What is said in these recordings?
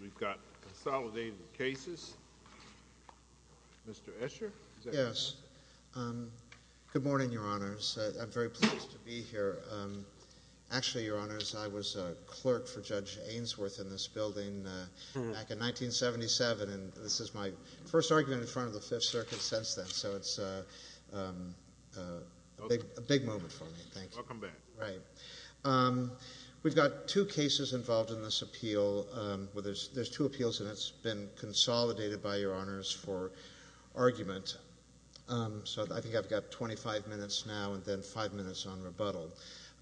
We've got consolidated cases. Mr. Escher? Yes. Good morning, Your Honors. I'm very pleased to be here. Actually, Your Honors, I was a clerk for Judge Ainsworth in this building back in 1977, and this is my first argument in front of the Fifth Circuit since then, so it's a big moment for me. Welcome back. Right. We've got two cases involved in this appeal. Well, there's two appeals, and it's been consolidated by Your Honors for argument. So I think I've got 25 minutes now and then five minutes on rebuttal.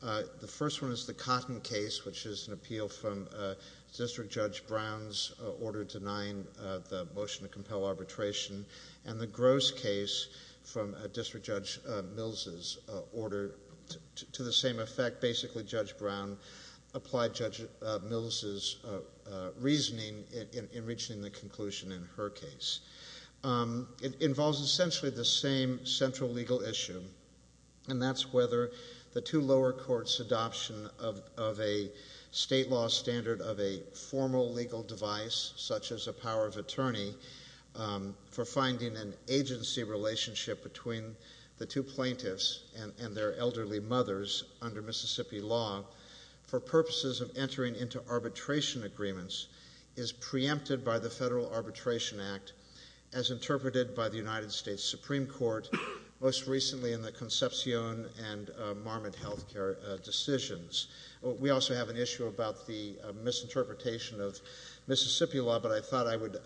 The first one is the Cotton case, which is an appeal from District Judge Brown's order denying the motion to compel arbitration, and the Gross case from District Judge Mills' order to the same effect. Basically, Judge Brown applied Judge Mills' reasoning in reaching the conclusion in her case. It involves essentially the same central legal issue, and that's whether the two lower courts' adoption of a state law standard of a formal legal device, such as a power of attorney for finding an agency relationship between the two plaintiffs and their elderly mothers under Mississippi law for purposes of entering into arbitration agreements is preempted by the Federal Arbitration Act as interpreted by the United States Supreme Court, most recently in the Concepcion and Marmot health care decisions. We also have an issue about the misinterpretation of Mississippi law, but I thought I would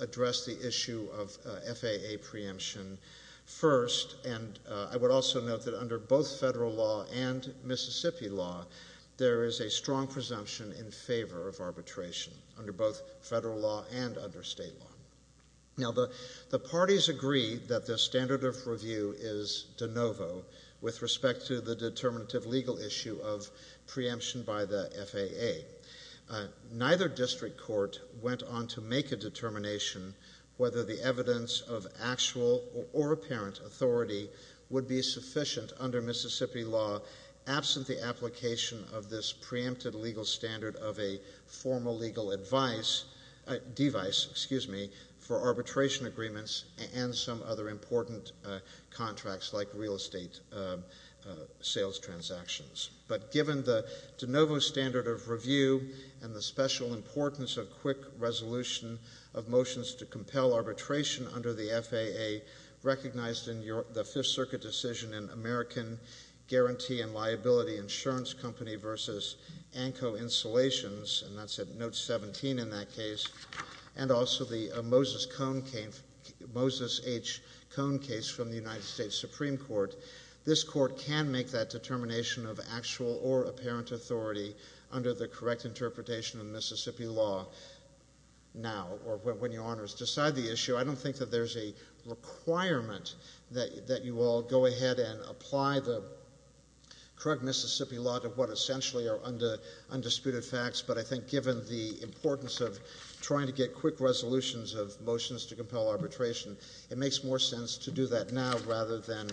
address the issue of FAA preemption first, and I would also note that under both federal law and Mississippi law, there is a strong presumption in favor of arbitration under both federal law and under state law. Now, the parties agree that the standard of review is de novo with respect to the determinative legal issue of preemption by the FAA. Neither district court went on to make a determination whether the evidence of actual or apparent authority would be sufficient under Mississippi law, absent the application of this preempted legal standard of a formal legal device for arbitration agreements and some other important contracts like real estate sales transactions. But given the de novo standard of review and the special importance of quick resolution of motions to compel arbitration under the FAA recognized in the Fifth Circuit decision in American Guarantee and Liability Insurance Company versus ANCO Installations, and that's at note 17 in that case, and also the Moses H. Cone case from the United States Supreme Court, this court can make that determination of actual or apparent authority under the correct interpretation of Mississippi law now or when your honors decide the issue. I don't think that there's a requirement that you all go ahead and apply the correct Mississippi law to what essentially are undisputed facts, but I think given the importance of trying to get quick resolutions of motions to compel arbitration, it makes more sense to do that now rather than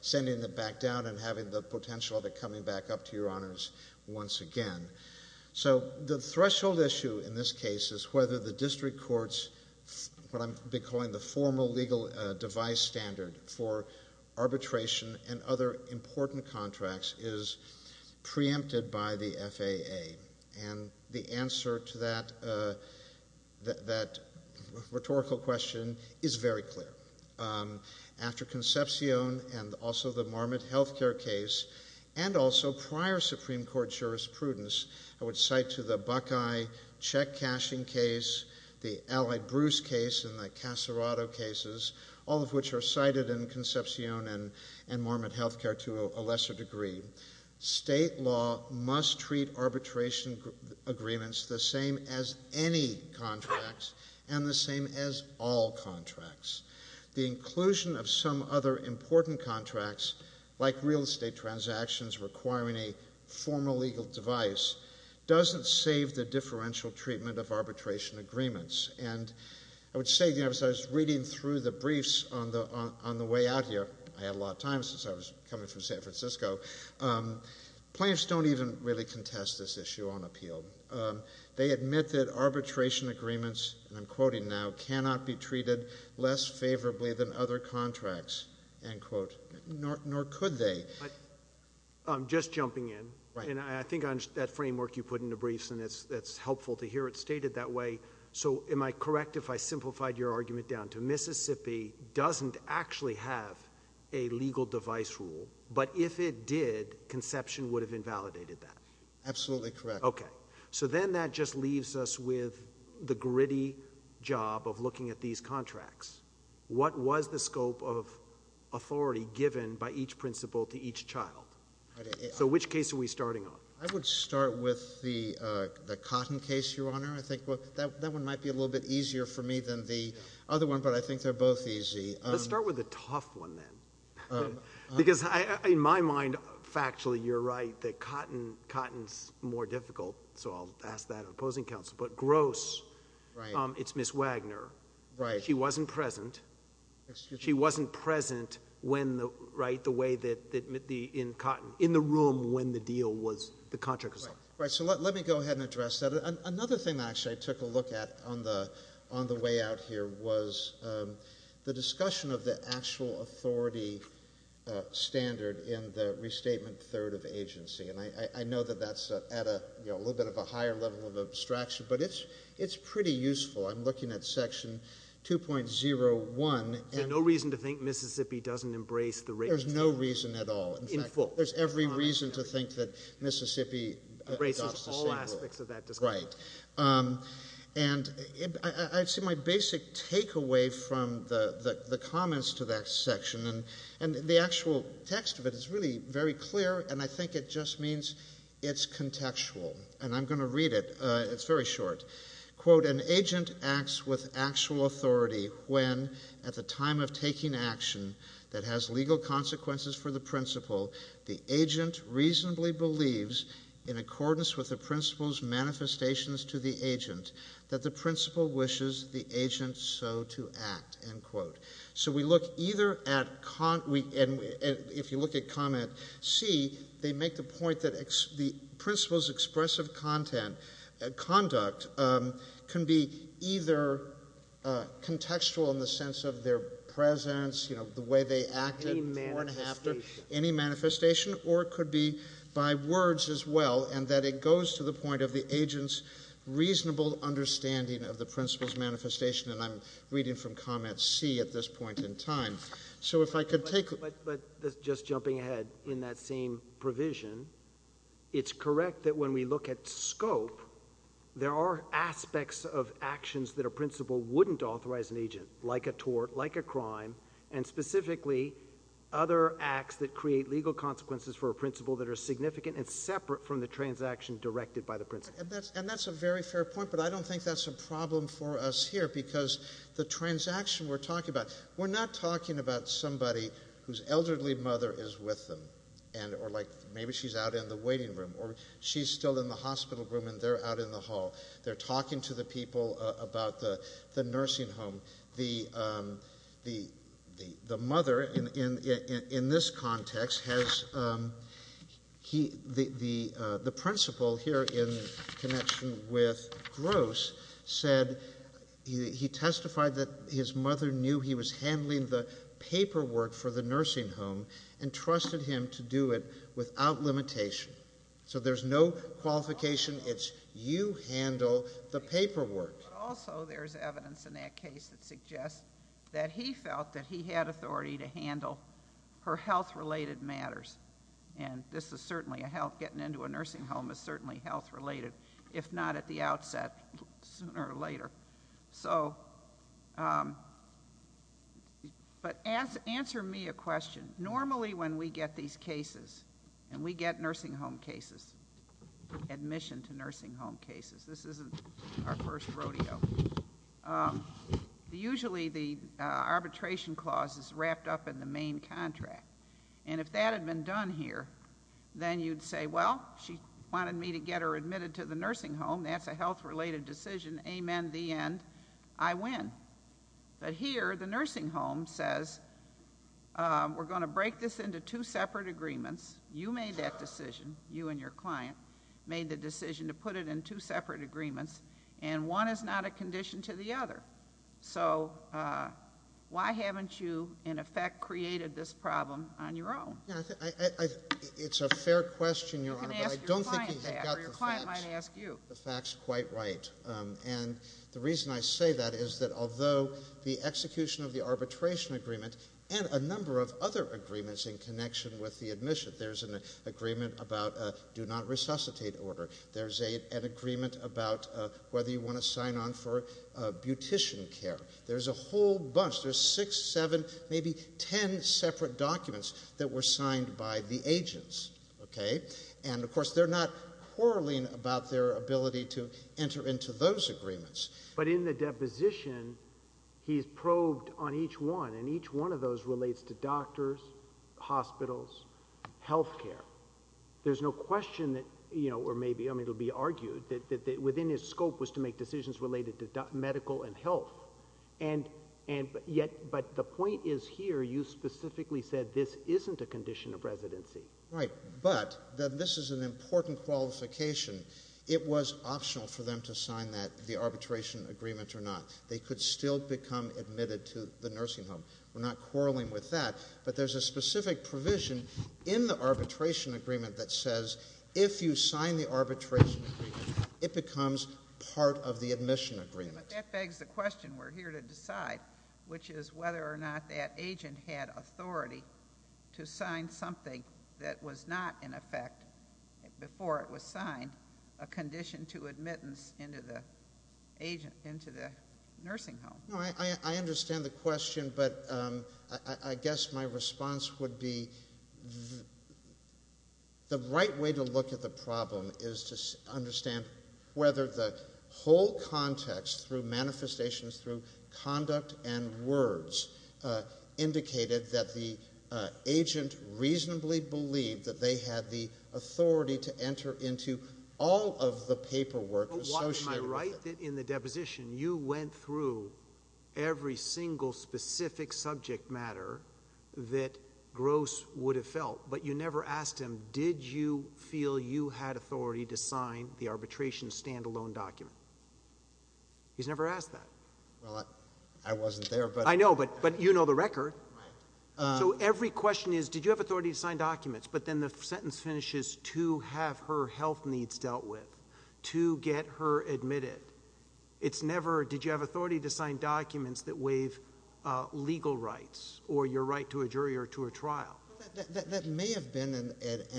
sending it back down and having the potential of it coming back up to your honors once again. So the threshold issue in this case is whether the district court's, what I'm calling the formal legal device standard for arbitration and other important contracts is preempted by the FAA. And the answer to that rhetorical question is very clear. After Concepcion and also the Marmot health care case and also prior Supreme Court jurisprudence, I would cite to the Buckeye check cashing case, the Allied Bruce case and the Casarado cases, all of which are cited in Concepcion and Marmot health care to a lesser degree. State law must treat arbitration agreements the same as any contracts and the same as all contracts. The inclusion of some other important contracts like real estate transactions requiring a formal legal device doesn't save the differential treatment of arbitration agreements. And I would say, you know, as I was reading through the briefs on the way out here, I had a lot of time since I was coming from San Francisco, plaintiffs don't even really contest this issue on appeal. They admit that arbitration agreements, and I'm quoting now, cannot be treated less favorably than other contracts, end quote. Nor could they. I'm just jumping in, and I think that framework you put in the briefs, and it's helpful to hear it stated that way. So am I correct if I simplified your argument down to Mississippi doesn't actually have a legal device rule, but if it did, Concepcion would have invalidated that? Absolutely correct. Okay. So then that just leaves us with the gritty job of looking at these contracts. What was the scope of authority given by each principal to each child? So which case are we starting on? I would start with the cotton case, Your Honor. I think that one might be a little bit easier for me than the other one, but I think they're both easy. Let's start with the tough one then. Because in my mind, factually, you're right, that cotton is more difficult, so I'll ask that of opposing counsel. But gross, it's Ms. Wagner. She wasn't present. She wasn't present in the room when the contract was signed. Right. So let me go ahead and address that. Another thing, actually, I took a look at on the way out here was the discussion of the actual authority standard in the restatement third of agency, and I know that that's at a little bit of a higher level of abstraction, but it's pretty useful. I'm looking at Section 2.01. There's no reason to think Mississippi doesn't embrace the rates. There's no reason at all. In fact, there's every reason to think that Mississippi adopts the same rule. Right. And I'd say my basic takeaway from the comments to that section, and the actual text of it is really very clear, and I think it just means it's contextual, and I'm going to read it. It's very short. Quote, an agent acts with actual authority when, at the time of taking action, that has legal consequences for the principal, the agent reasonably believes, in accordance with the principal's manifestations to the agent, that the principal wishes the agent so to act, end quote. So we look either at, if you look at comment C, they make the point that the principal's expressive conduct can be either contextual in the sense of their presence, you know, the way they act. Any manifestation. Any manifestation, or it could be by words as well, and that it goes to the point of the agent's reasonable understanding of the principal's manifestation, and I'm reading from comment C at this point in time. So if I could take... But just jumping ahead, in that same provision, it's correct that when we look at scope, there are aspects of actions that a principal wouldn't authorize an agent, like a tort, like a crime, and specifically other acts that create legal consequences for a principal that are significant and separate from the transaction directed by the principal. And that's a very fair point, but I don't think that's a problem for us here, because the transaction we're talking about, we're not talking about somebody whose elderly mother is with them, or like maybe she's out in the waiting room, or she's still in the hospital room and they're out in the hall. They're talking to the people about the nursing home. The mother, in this context, has... The principal, here in connection with Gross, said he testified that his mother knew he was handling the paperwork for the nursing home and trusted him to do it without limitation. So there's no qualification. It's you handle the paperwork. But also there's evidence in that case that suggests that he felt that he had authority to handle her health-related matters. And this is certainly a health... Getting into a nursing home is certainly health-related, if not at the outset, sooner or later. So... But answer me a question. Normally when we get these cases, and we get nursing home cases, admission to nursing home cases, this isn't our first rodeo, usually the arbitration clause is wrapped up in the main contract. And if that had been done here, then you'd say, well, she wanted me to get her admitted to the nursing home, that's a health-related decision, amen, the end, I win. But here, the nursing home says, we're going to break this into two separate agreements. You made that decision, you and your client made the decision to put it in two separate agreements, and one is not a condition to the other. So why haven't you, in effect, created this problem on your own? It's a fair question, Your Honor. You can ask your client that, or your client might ask you. The fact's quite right. And the reason I say that is that although the execution of the arbitration agreement and a number of other agreements in connection with the admission, there's an agreement about do not resuscitate order, there's an agreement about whether you want to sign on for beautician care, there's a whole bunch, there's six, seven, maybe ten separate documents that were signed by the agents. And, of course, they're not quarreling about their ability to enter into those agreements. But in the deposition, he's probed on each one, and each one of those relates to doctors, hospitals, health care. There's no question that, or maybe it'll be argued, that within his scope was to make decisions related to medical and health. But the point is here, you specifically said this isn't a condition of residency. Right. But this is an important qualification. It was optional for them to sign the arbitration agreement or not. They could still become admitted to the nursing home. We're not quarreling with that. But there's a specific provision in the arbitration agreement that says if you sign the arbitration agreement, it becomes part of the admission agreement. But that begs the question we're here to decide, which is whether or not that agent had authority to sign something that was not, in effect, before it was signed, a condition to admittance into the nursing home. I understand the question, but I guess my response would be the right way to look at the problem is to understand whether the whole context through manifestations, through conduct and words, indicated that the agent reasonably believed that they had the authority to enter into all of the paperwork associated with it. Am I right that in the deposition, you went through every single specific subject matter that Gross would have felt, but you never asked him, did you feel you had authority to sign the arbitration standalone document? He's never asked that. Well, I wasn't there, but... I know, but you know the record. Right. So every question is, did you have authority to sign documents? But then the sentence finishes, to have her health needs dealt with, to get her admitted. It's never, did you have authority to sign documents that waive legal rights or your right to a jury or to a trial. That may have been an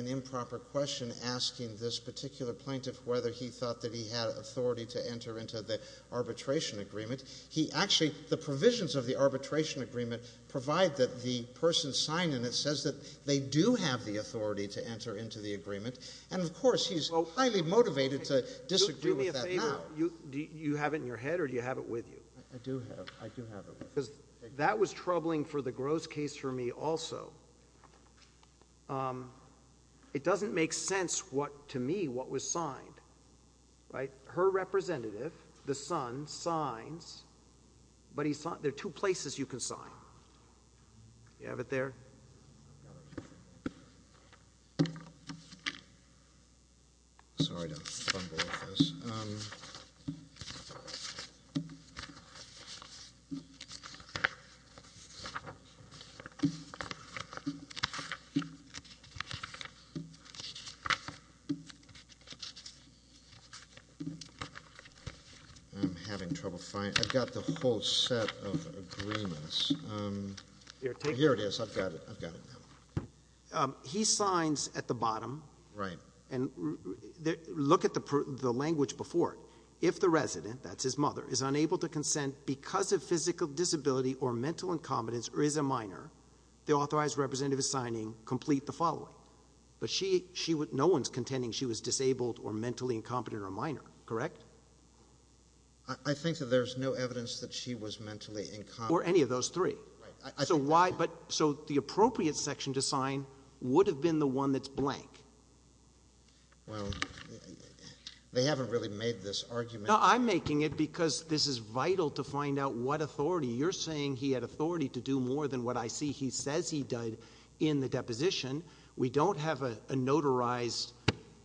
improper question asking this particular plaintiff whether he thought that he had authority to enter into the arbitration agreement. He actually, the provisions of the arbitration agreement provide that the person signed in it says that they do have the authority to enter into the agreement, and of course he's highly motivated to disagree with that now. Do me a favor. Do you have it in your head or do you have it with you? I do have it with me. Because that was troubling for the Gross case for me also. It doesn't make sense to me what was signed. Her representative, the son, signs, but there are two places you can sign. Do you have it there? I've got it. Sorry to fumble with this. I'm having trouble finding it. I've got the whole set of agreements. Here it is. I've got it. He signs at the bottom. Right. And look at the language before it. If the resident, that's his mother, is unable to consent because of physical disability or mental incompetence or is a minor, the authorized representative is signing complete the following. But no one's contending she was disabled or mentally incompetent or minor, correct? I think that there's no evidence that she was mentally incompetent. Or any of those three. So the appropriate section to sign would have been the one that's blank. Well, they haven't really made this argument. No, I'm making it because this is vital to find out what authority. You're saying he had authority to do more than what I see he says he did in the deposition. We don't have a notarized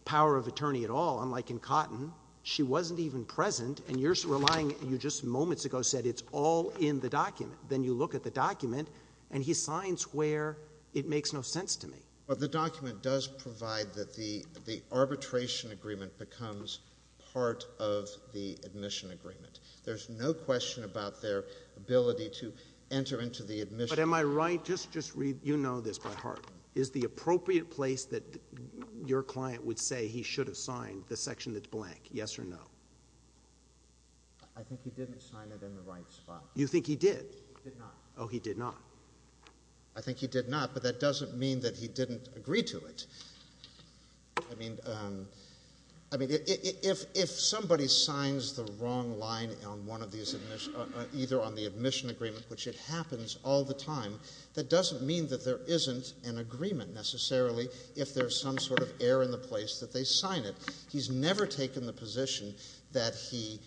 power of attorney at all, unlike in Cotton. She wasn't even present. You just moments ago said it's all in the document. Then you look at the document and he signs where it makes no sense to me. The document does provide that the arbitration agreement becomes part of the admission agreement. There's no question about their ability to enter into the admission. But am I right? Just read. You know this by heart. Is the appropriate place that your client would say he should have signed the section that's blank, yes or no? I think he didn't sign it in the right spot. You think he did? He did not. Oh, he did not. I think he did not. But that doesn't mean that he didn't agree to it. I mean, if somebody signs the wrong line on one of these, either on the admission agreement, which it happens all the time, that doesn't mean that there isn't an agreement necessarily if there's some sort of error in the place that they sign it. He's never taken the position that he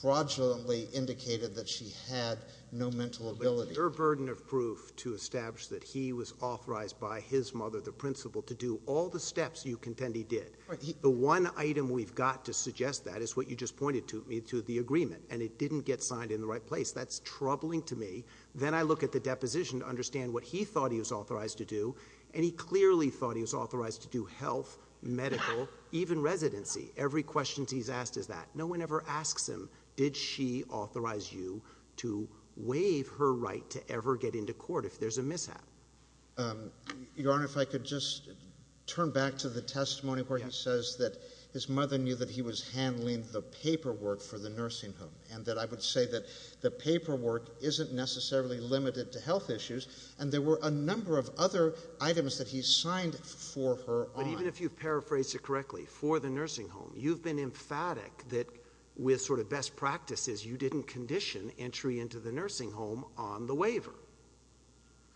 fraudulently indicated that she had no mental ability. Your burden of proof to establish that he was authorized by his mother, the principal, to do all the steps you contend he did. The one item we've got to suggest that is what you just pointed to, to the agreement, and it didn't get signed in the right place. That's troubling to me. Then I look at the deposition to understand what he thought he was authorized to do, and he clearly thought he was authorized to do health, medical, even residency. Every question he's asked is that. No one ever asks him, did she authorize you to waive her right to ever get into court if there's a mishap? Your Honor, if I could just turn back to the testimony where he says that his mother knew that he was handling the paperwork for the nursing home and that I would say that the paperwork isn't necessarily limited to health issues, and there were a number of other items that he signed for her on. But even if you've paraphrased it correctly, for the nursing home, you've been emphatic that with sort of best practices you didn't condition entry into the nursing home on the waiver.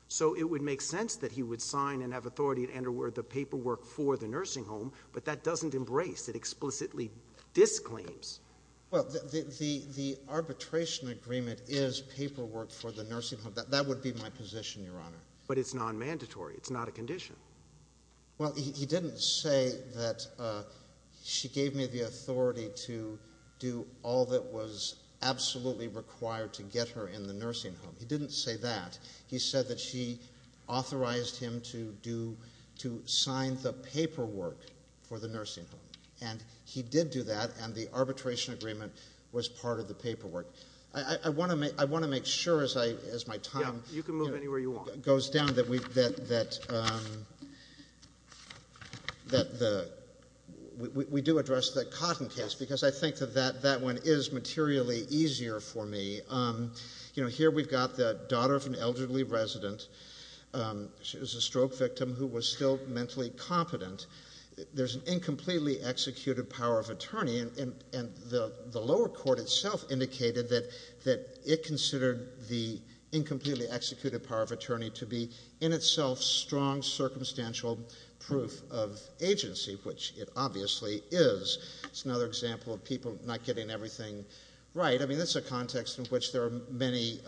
So it would make sense that he would sign and have authority to enter the paperwork for the nursing home, but that doesn't embrace, it explicitly disclaims. Well, the arbitration agreement is paperwork for the nursing home. That would be my position, Your Honor. But it's nonmandatory. It's not a condition. Well, he didn't say that she gave me the authority to do all that was absolutely required to get her in the nursing home. He didn't say that. He said that she authorized him to sign the paperwork for the nursing home, and he did do that, and the arbitration agreement was part of the paperwork. I want to make sure, as my time goes down, that we do address the Cotton case, because I think that that one is materially easier for me. You know, here we've got the daughter of an elderly resident. She was a stroke victim who was still mentally competent. There's an incompletely executed power of attorney, and the lower court itself indicated that it considered the incompletely executed power of attorney to be, in itself, strong circumstantial proof of agency, which it obviously is. It's another example of people not getting everything right. I mean, that's a context in which there are many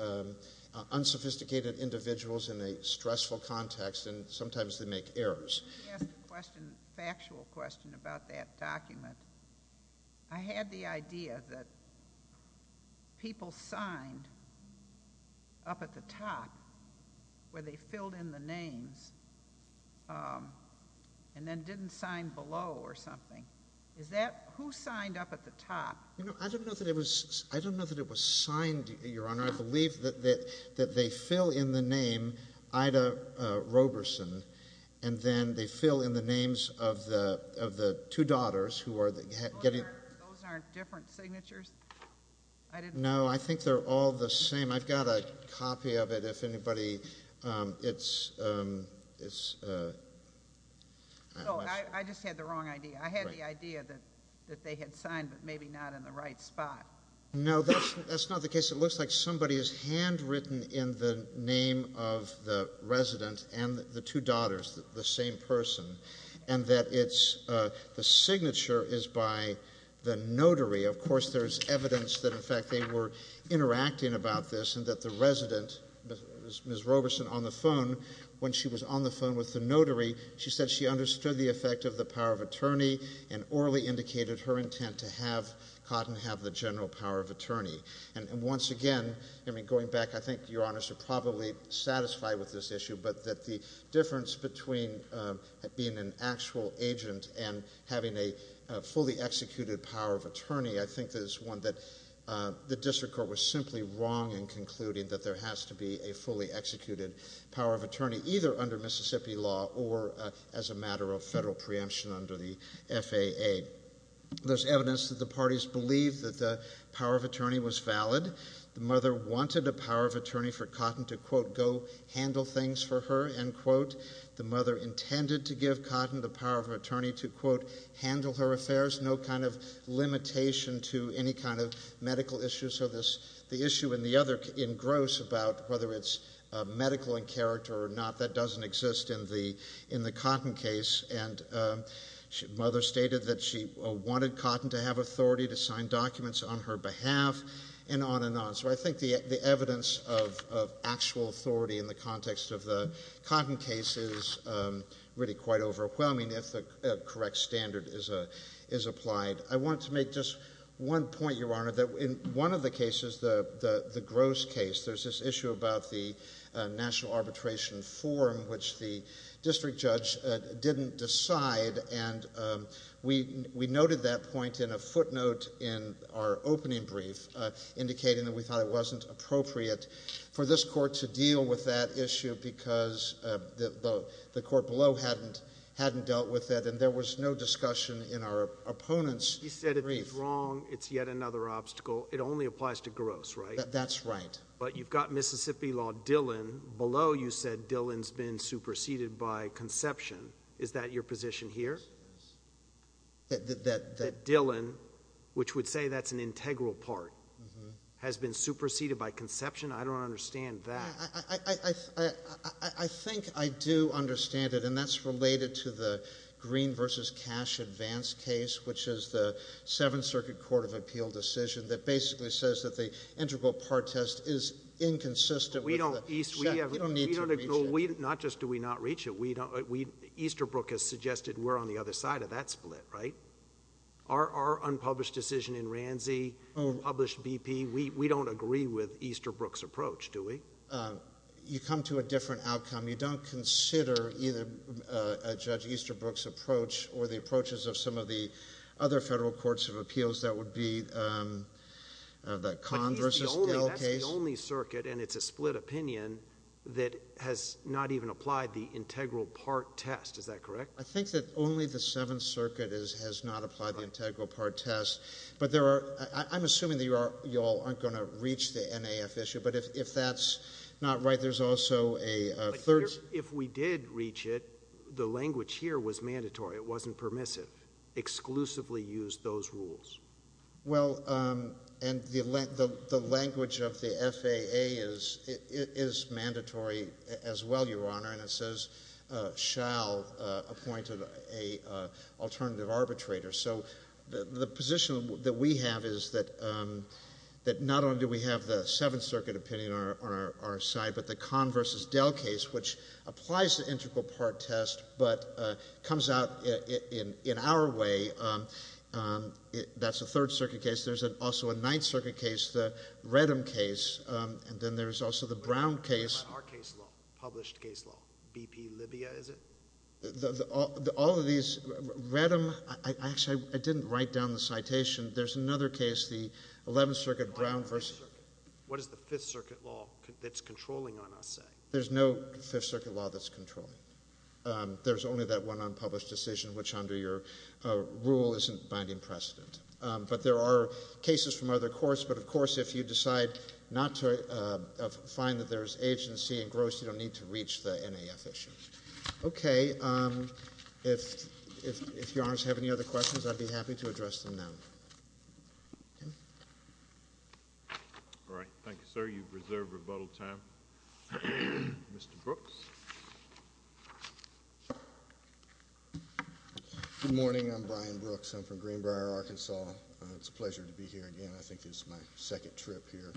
unsophisticated individuals in a stressful context, and sometimes they make errors. Let me ask a question, a factual question, about that document. I had the idea that people signed up at the top where they filled in the names and then didn't sign below or something. Who signed up at the top? I don't know that it was signed, Your Honor. I believe that they fill in the name Ida Roberson, and then they fill in the names of the two daughters who are getting... Those aren't different signatures? No, I think they're all the same. I've got a copy of it if anybody... I just had the wrong idea. I had the idea that they had signed but maybe not in the right spot. No, that's not the case. It looks like somebody has handwritten in the name of the resident and the two daughters, the same person, and that the signature is by the notary. Of course, there's evidence that, in fact, they were interacting about this and that the resident, Ms. Roberson, on the phone, when she was on the phone with the notary, she said she understood the effect of the power of attorney and orally indicated her intent to have Cotton have the general power of attorney. And once again, going back, I think Your Honors are probably satisfied with this issue, but that the difference between being an actual agent and having a fully executed power of attorney, I think that it's one that the district court was simply wrong in concluding that there has to be a fully executed power of attorney, either under Mississippi law or as a matter of federal preemption under the FAA. There's evidence that the parties believe that the power of attorney was valid. The mother wanted a power of attorney for Cotton to, quote, go handle things for her, end quote. The mother intended to give Cotton the power of attorney to, quote, handle her affairs, no kind of limitation to any kind of medical issues. So the issue and the other engrossed about whether it's medical in character or not, that doesn't exist in the Cotton case. And the mother stated that she wanted Cotton to have authority to sign documents on her behalf and on and on. So I think the evidence of actual authority in the context of the Cotton case is really quite overwhelming if the correct standard is applied. I wanted to make just one point, Your Honor, that in one of the cases, the Gross case, there's this issue about the National Arbitration Forum, which the district judge didn't decide. And we noted that point in a footnote in our opening brief, indicating that we thought it wasn't appropriate for this court to deal with that issue because the court below hadn't dealt with it, and there was no discussion in our opponent's brief. He said if he's wrong, it's yet another obstacle. It only applies to Gross, right? That's right. But you've got Mississippi law Dillon. Below, you said Dillon's been superseded by Conception. Is that your position here? That Dillon, which would say that's an integral part, has been superseded by Conception? I don't understand that. I think I do understand it, and that's related to the Green v. Cash advance case, which is the Seventh Circuit Court of Appeal decision that basically says that the integral part test is inconsistent. We don't need to reach it. Not just do we not reach it. Easterbrook has suggested we're on the other side of that split, right? Our unpublished decision in Ransey, unpublished BP, we don't agree with Easterbrook's approach, do we? You come to a different outcome. You don't consider either Judge Easterbrook's approach or the approaches of some of the other federal courts of appeals. That would be the Conn v. Dill case. But that's the only circuit, and it's a split opinion, that has not even applied the integral part test. Is that correct? I think that only the Seventh Circuit has not applied the integral part test. But I'm assuming that you all aren't going to reach the NAF issue, but if that's not right, there's also a third— If we did reach it, the language here was mandatory. It wasn't permissive. Exclusively used those rules. Well, and the language of the FAA is mandatory as well, Your Honor, and it says shall appoint an alternative arbitrator. So the position that we have is that not only do we have the Seventh Circuit opinion on our side, but the Conn v. Dill case, which applies the integral part test, but comes out in our way, that's a Third Circuit case. There's also a Ninth Circuit case, the Redham case, and then there's also the Brown case. What about our case law, published case law, BP-Libya, is it? All of these—Redham—actually, I didn't write down the citation. There's another case, the Eleventh Circuit Brown v.— What does the Fifth Circuit law that's controlling on us say? There's no Fifth Circuit law that's controlling. There's only that one unpublished decision, which under your rule isn't binding precedent. If you decide not to—find that there's agency and gross, you don't need to reach the NAF issue. Okay. If Your Honors have any other questions, I'd be happy to address them now. All right. Thank you, sir. You've reserved rebuttal time. Mr. Brooks? Good morning. I'm Brian Brooks. I'm from Greenbrier, Arkansas. It's a pleasure to be here again. I think this is my second trip here.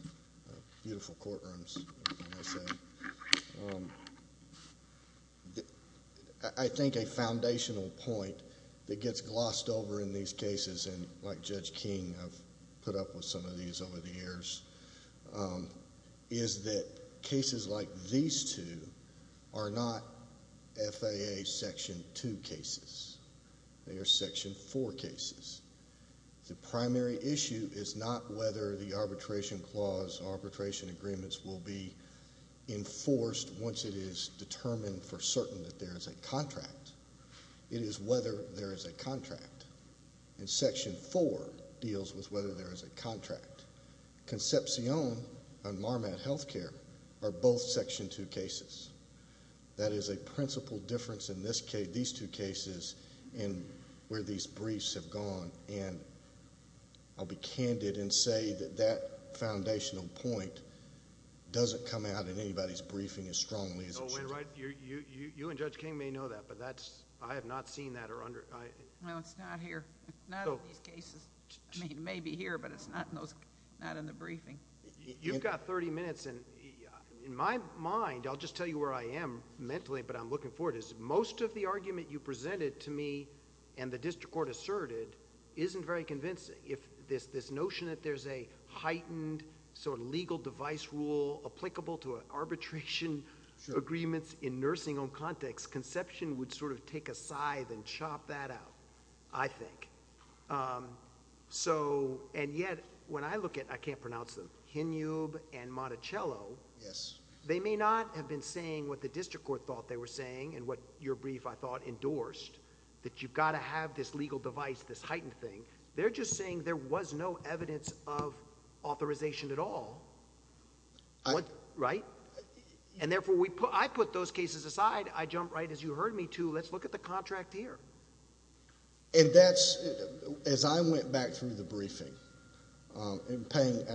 Beautiful courtrooms. I think a foundational point that gets glossed over in these cases, and like Judge King, I've put up with some of these over the years, is that cases like these two are not FAA Section 2 cases. They are Section 4 cases. The primary issue is not whether the arbitration clause, arbitration agreements, will be enforced once it is determined for certain that there is a contract. It is whether there is a contract. And Section 4 deals with whether there is a contract. Concepcion and Marmat Health Care are both Section 2 cases. That is a principal difference in these two cases and where these briefs have gone. I'll be candid and say that that foundational point doesn't come out in anybody's briefing as strongly as it should. You and Judge King may know that, but I have not seen that. No, it's not here. Not in these cases. It may be here, but it's not in the briefing. You've got 30 minutes. In my mind, I'll just tell you where I am mentally, but I'm looking for it, is most of the argument you presented to me and the district court asserted isn't very convincing. This notion that there's a heightened legal device rule applicable to arbitration agreements in nursing home context, Concepcion would take a scythe and chop that out, I think. And yet, when I look at, I can't pronounce them, Hinnube and Monticello, they may not have been saying what the district court thought they were saying and what your brief, I thought, endorsed, that you've got to have this legal device, this heightened thing. They're just saying there was no evidence of authorization at all. Right? And therefore, I put those cases aside. I jumped right, as you heard me too, let's look at the contract here. And that's, as I went back through the briefing, and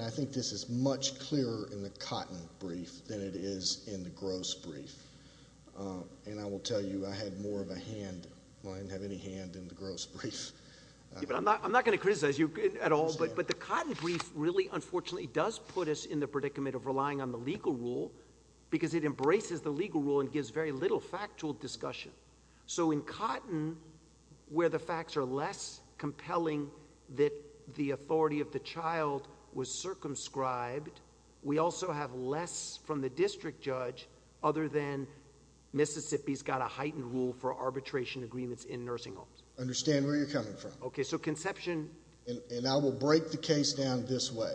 I think this is much clearer in the Cotton brief than it is in the Gross brief, and I will tell you I had more of a hand, I didn't have any hand in the Gross brief. I'm not going to criticize you at all, but the Cotton brief really, unfortunately, does put us in the predicament of relying on the legal rule because it embraces the legal rule and gives very little factual discussion. So in Cotton, where the facts are less compelling that the authority of the child was circumscribed, we also have less from the district judge other than Mississippi's got a heightened rule for arbitration agreements in nursing homes. I understand where you're coming from. Okay, so Conception... And I will break the case down this way.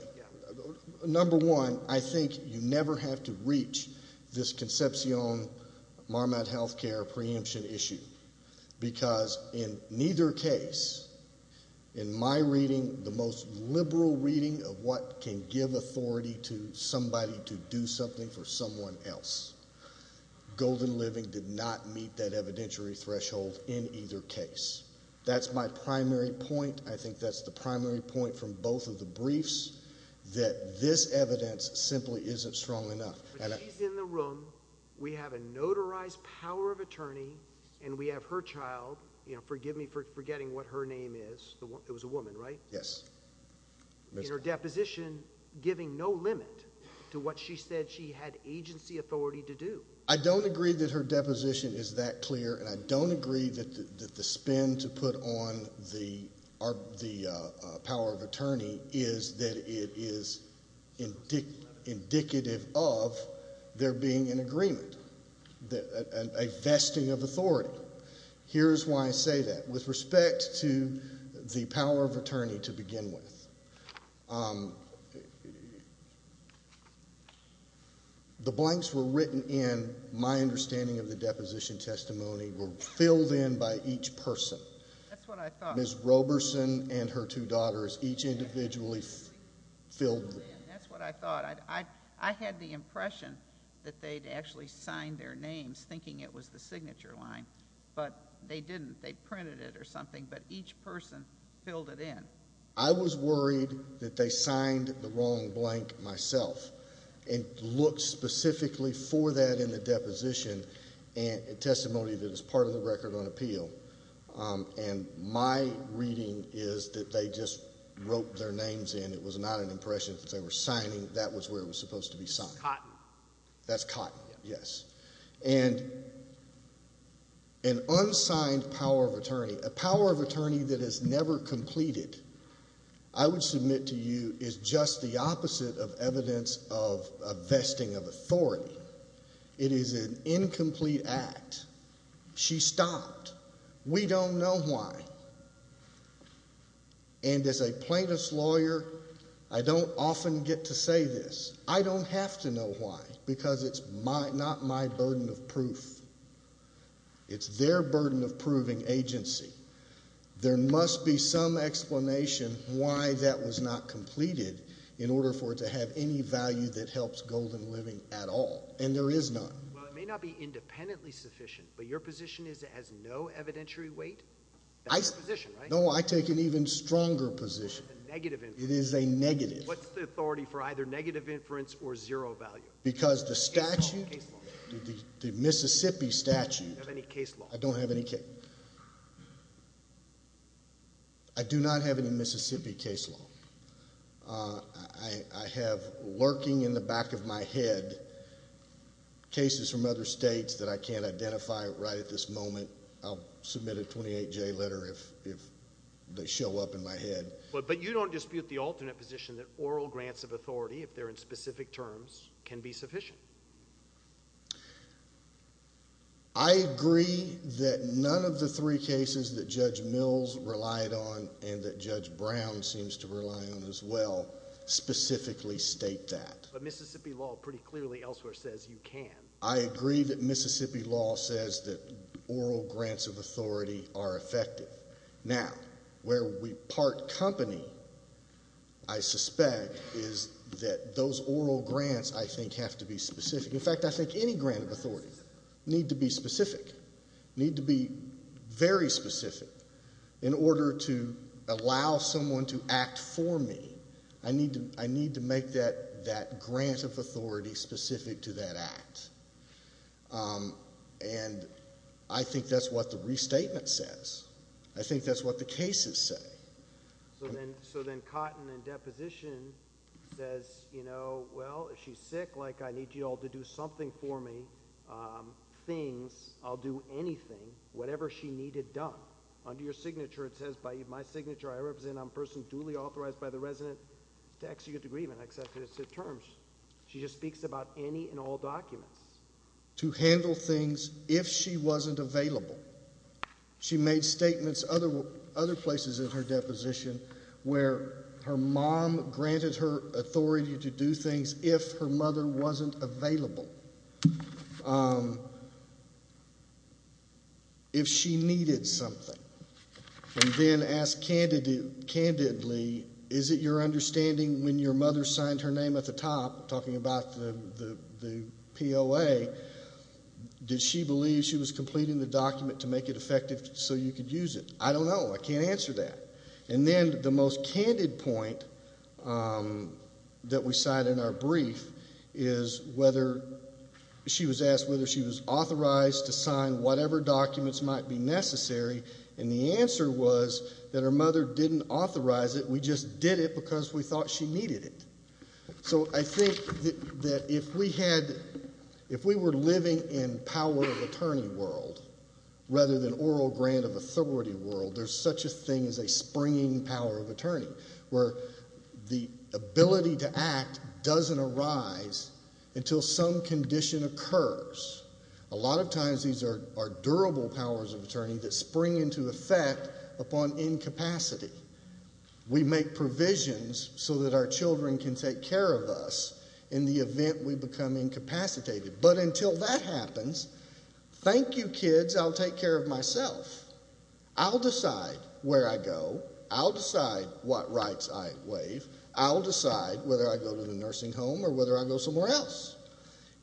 Number one, I think you never have to reach this Conception Marmot Healthcare preemption issue because in neither case, in my reading, the most liberal reading of what can give authority to somebody to do something for someone else, Golden Living did not meet that evidentiary threshold in either case. That's my primary point. I think that's the primary point from both of the briefs that this evidence simply isn't strong enough. She's in the room. We have a notarized power of attorney, and we have her child. Forgive me for forgetting what her name is. It was a woman, right? Yes. In her deposition, giving no limit to what she said she had agency authority to do. I don't agree that her deposition is that clear, and I don't agree that the spin to put on the power of attorney is that it is indicative of there being an agreement, a vesting of authority. Here's why I say that. With respect to the power of attorney to begin with, the blanks were written in, my understanding of the deposition testimony, were filled in by each person. That's what I thought. Ms. Roberson and her two daughters, each individually filled in. That's what I thought. I had the impression that they'd actually signed their names, thinking it was the signature line, but they didn't. They printed it or something, but each person filled it in. I was worried that they signed the wrong blank myself and looked specifically for that in the deposition testimony that is part of the record on appeal. And my reading is that they just wrote their names in. It was not an impression that they were signing. That was where it was supposed to be signed. Cotton. That's cotton, yes. And an unsigned power of attorney, a power of attorney that is never completed, I would submit to you, is just the opposite of evidence of a vesting of authority. It is an incomplete act. She stopped. We don't know why. And as a plaintiff's lawyer, I don't often get to say this. I don't have to know why because it's not my burden of proof. It's their burden of proving agency. There must be some explanation why that was not completed in order for it to have any value that helps Golden Living at all, and there is none. Well, it may not be independently sufficient, but your position is it has no evidentiary weight? That's the position, right? No, I take an even stronger position. It's a negative. It is a negative. What's the authority for either negative inference or zero value? Because the statute, the Mississippi statute. Do you have any case law? I don't have any case. I do not have any Mississippi case law. I have lurking in the back of my head cases from other states that I can't identify right at this moment. I'll submit a 28-J letter if they show up in my head. But you don't dispute the alternate position that oral grants of authority, if they're in specific terms, can be sufficient? I agree that none of the three cases that Judge Mills relied on and that Judge Brown seems to rely on as well specifically state that. But Mississippi law pretty clearly elsewhere says you can. I agree that Mississippi law says that oral grants of authority are effective. Now, where we part company, I suspect, is that those oral grants, I think, have to be specific. In fact, I think any grant of authority need to be specific, need to be very specific. In order to allow someone to act for me, I need to make that grant of authority specific to that act. And I think that's what the restatement says. I think that's what the cases say. So then Cotton in deposition says, you know, well, if she's sick, like, I need you all to do something for me. Things. I'll do anything. Whatever she needed done. Under your signature, it says, by my signature, I represent a person duly authorized by the resident to execute the agreement. She just speaks about any and all documents. To handle things if she wasn't available. She made statements other places in her deposition where her mom granted her authority to do things if her mother wasn't available. If she needed something. And then ask candidly, is it your understanding when your mother signed her name at the top, talking about the POA, did she believe she was completing the document to make it effective so you could use it? I don't know. I can't answer that. And then the most candid point that we cite in our brief is whether she was asked whether she was authorized to sign whatever documents might be necessary. And the answer was that her mother didn't authorize it. We just did it because we thought she needed it. So I think that if we had, if we were living in power of attorney world, rather than oral grant of authority world, there's such a thing as a springing power of attorney. Where the ability to act doesn't arise until some condition occurs. A lot of times these are durable powers of attorney that spring into effect upon incapacity. We make provisions so that our children can take care of us in the event we become incapacitated. But until that happens, thank you kids, I'll take care of myself. I'll decide where I go. I'll decide what rights I waive. I'll decide whether I go to the nursing home or whether I go somewhere else.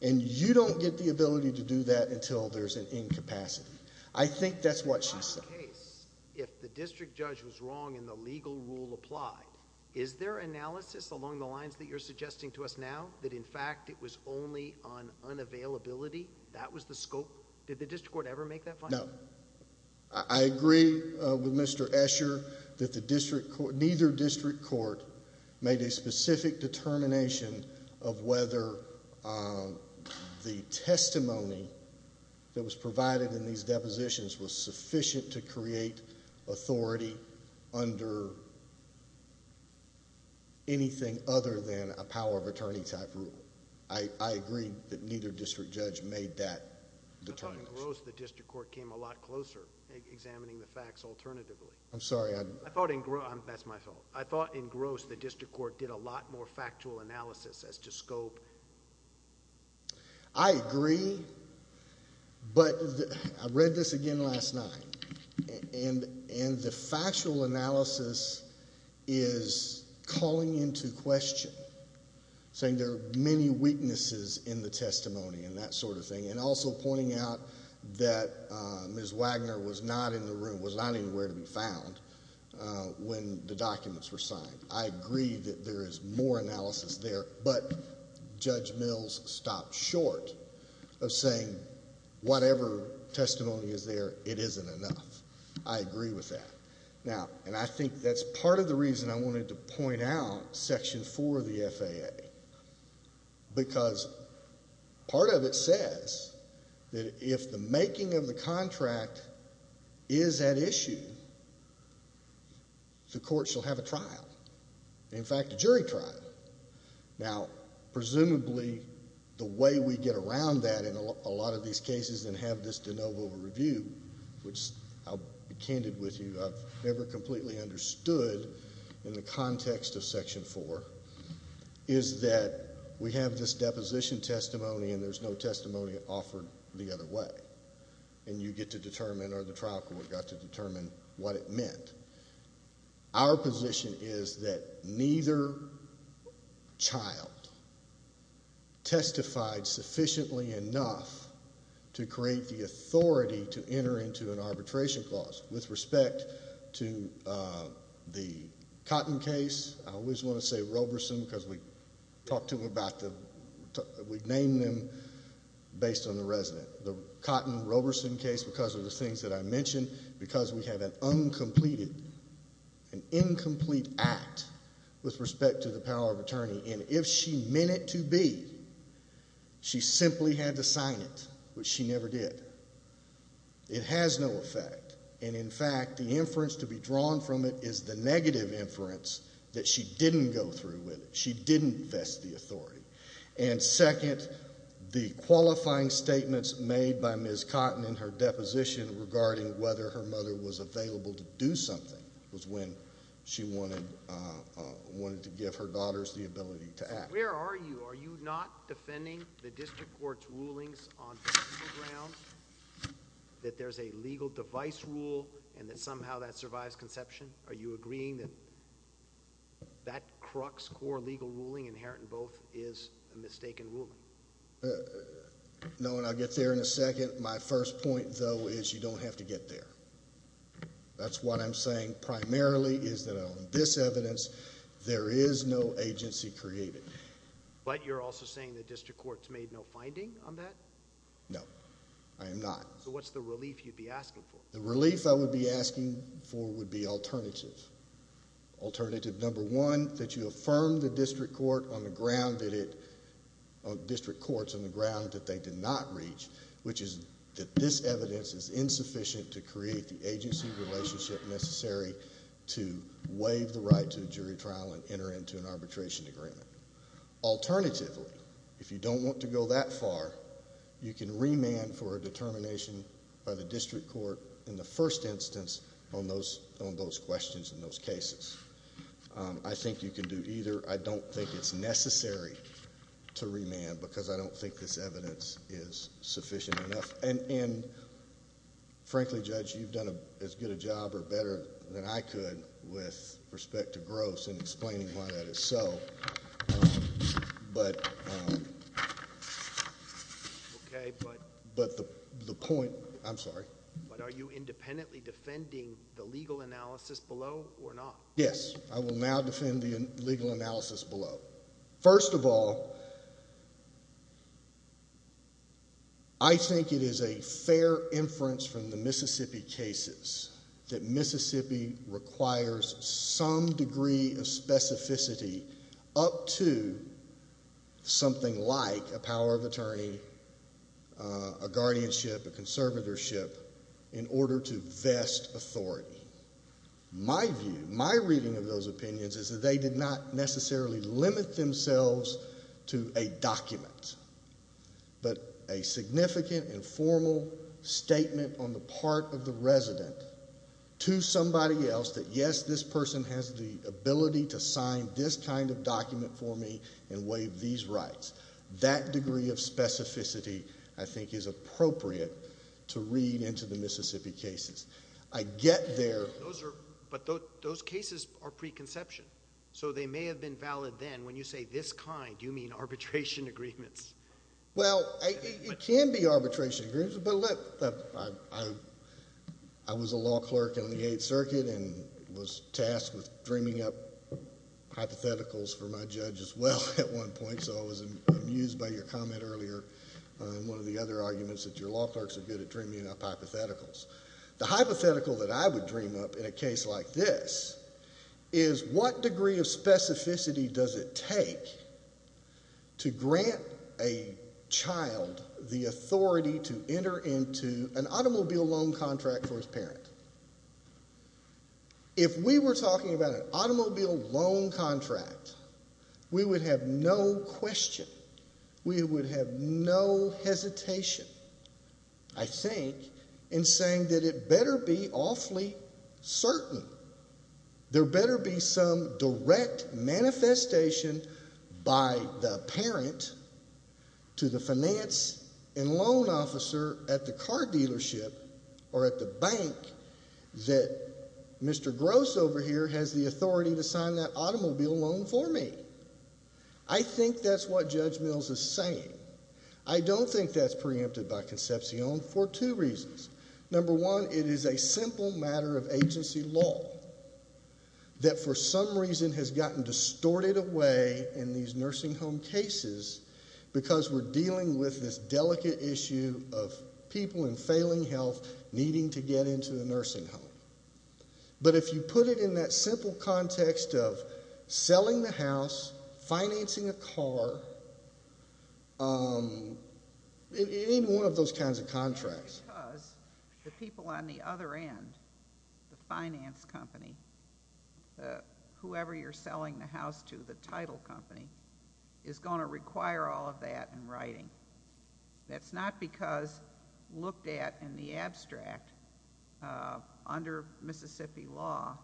And you don't get the ability to do that until there's an incapacity. I think that's what she said. In your case, if the district judge was wrong and the legal rule applied, is there analysis along the lines that you're suggesting to us now? That in fact it was only on unavailability? That was the scope? Did the district court ever make that finding? No. I agree with Mr. Escher that neither district court made a specific determination of whether the testimony that was provided in these depositions was sufficient to create authority under anything other than a power of attorney type rule. I agree that neither district judge made that determination. I thought in Gross the district court came a lot closer examining the facts alternatively. I'm sorry. I thought in Gross... that's my fault. I thought in Gross the district court did a lot more factual analysis as to scope. I agree, but I read this again last night, and the factual analysis is calling into question, saying there are many weaknesses in the testimony and that sort of thing, and also pointing out that Ms. Wagner was not in the room, was not anywhere to be found when the documents were signed. I agree that there is more analysis there, but Judge Mills stopped short of saying whatever testimony is there, it isn't enough. I agree with that. Now, and I think that's part of the reason I wanted to point out Section 4 of the FAA, because part of it says that if the making of the contract is at issue, the court shall have a trial, in fact, a jury trial. Now, presumably the way we get around that in a lot of these cases and have this de novo review, which I'll be candid with you, I've never completely understood in the context of Section 4, is that we have this deposition testimony and there's no testimony offered the other way, and you get to determine, or the trial court got to determine, what it meant. Our position is that neither child testified sufficiently enough to create the authority to enter into an arbitration clause. With respect to the Cotton case, I always want to say Roberson because we've named them based on the resident. The Cotton-Roberson case, because of the things that I mentioned, because we have an uncompleted, an incomplete act with respect to the power of attorney, and if she meant it to be, she simply had to sign it, which she never did. It has no effect, and in fact, the inference to be drawn from it is the negative inference that she didn't go through with it. She didn't vest the authority. And second, the qualifying statements made by Ms. Cotton in her deposition regarding whether her mother was available to do something was when she wanted to give her daughters the ability to act. Where are you? Are you not defending the district court's rulings on principle grounds that there's a legal device rule and that somehow that survives conception? Are you agreeing that that crux core legal ruling inherent in both is a mistaken ruling? No, and I'll get there in a second. My first point, though, is you don't have to get there. That's what I'm saying primarily is that on this evidence there is no agency created. But you're also saying that district courts made no finding on that? No, I am not. So what's the relief you'd be asking for? The relief I would be asking for would be alternative. Alternative number one, that you affirm the district court on the ground that it, district courts on the ground that they did not reach, which is that this evidence is insufficient to create the agency relationship necessary to waive the right to a jury trial and enter into an arbitration agreement. Alternatively, if you don't want to go that far, you can remand for a determination by the district court in the first instance on those questions and those cases. I think you can do either. I don't think it's necessary to remand because I don't think this evidence is sufficient enough. And frankly, Judge, you've done as good a job or better than I could with respect to Gross in explaining why that is so. But the point, I'm sorry. But are you independently defending the legal analysis below or not? Yes, I will now defend the legal analysis below. First of all, I think it is a fair inference from the Mississippi cases that Mississippi requires some degree of specificity up to something like a power of attorney, a guardianship, a conservatorship in order to vest authority. My view, my reading of those opinions is that they did not necessarily limit themselves to a document, but a significant and formal statement on the part of the resident to somebody else that, yes, this person has the ability to sign this kind of document for me and waive these rights. That degree of specificity, I think, is appropriate to read into the Mississippi cases. I get there. But those cases are preconception. So they may have been valid then. When you say this kind, you mean arbitration agreements. Well, it can be arbitration agreements. But look, I was a law clerk in the Eighth Circuit and was tasked with dreaming up hypotheticals for my judge as well at one point. So I was amused by your comment earlier in one of the other arguments that your law clerks are good at dreaming up hypotheticals. The hypothetical that I would dream up in a case like this is what degree of specificity does it take to grant a child the authority to enter into an automobile loan contract for his parent? If we were talking about an automobile loan contract, we would have no question, we would have no hesitation, I think, in saying that it better be awfully certain. There better be some direct manifestation by the parent to the finance and loan officer at the car dealership or at the bank that Mr. Gross over here has the authority to sign that automobile loan for me. I think that's what Judge Mills is saying. I don't think that's preempted by conception for two reasons. Number one, it is a simple matter of agency law that for some reason has gotten distorted away in these nursing home cases because we're dealing with this delicate issue of people in failing health needing to get into a nursing home. But if you put it in that simple context of selling the house, financing a car, it ain't one of those kinds of contracts. It's because the people on the other end, the finance company, whoever you're selling the house to, the title company, is going to require all of that in writing. That's not because looked at in the abstract under Mississippi law,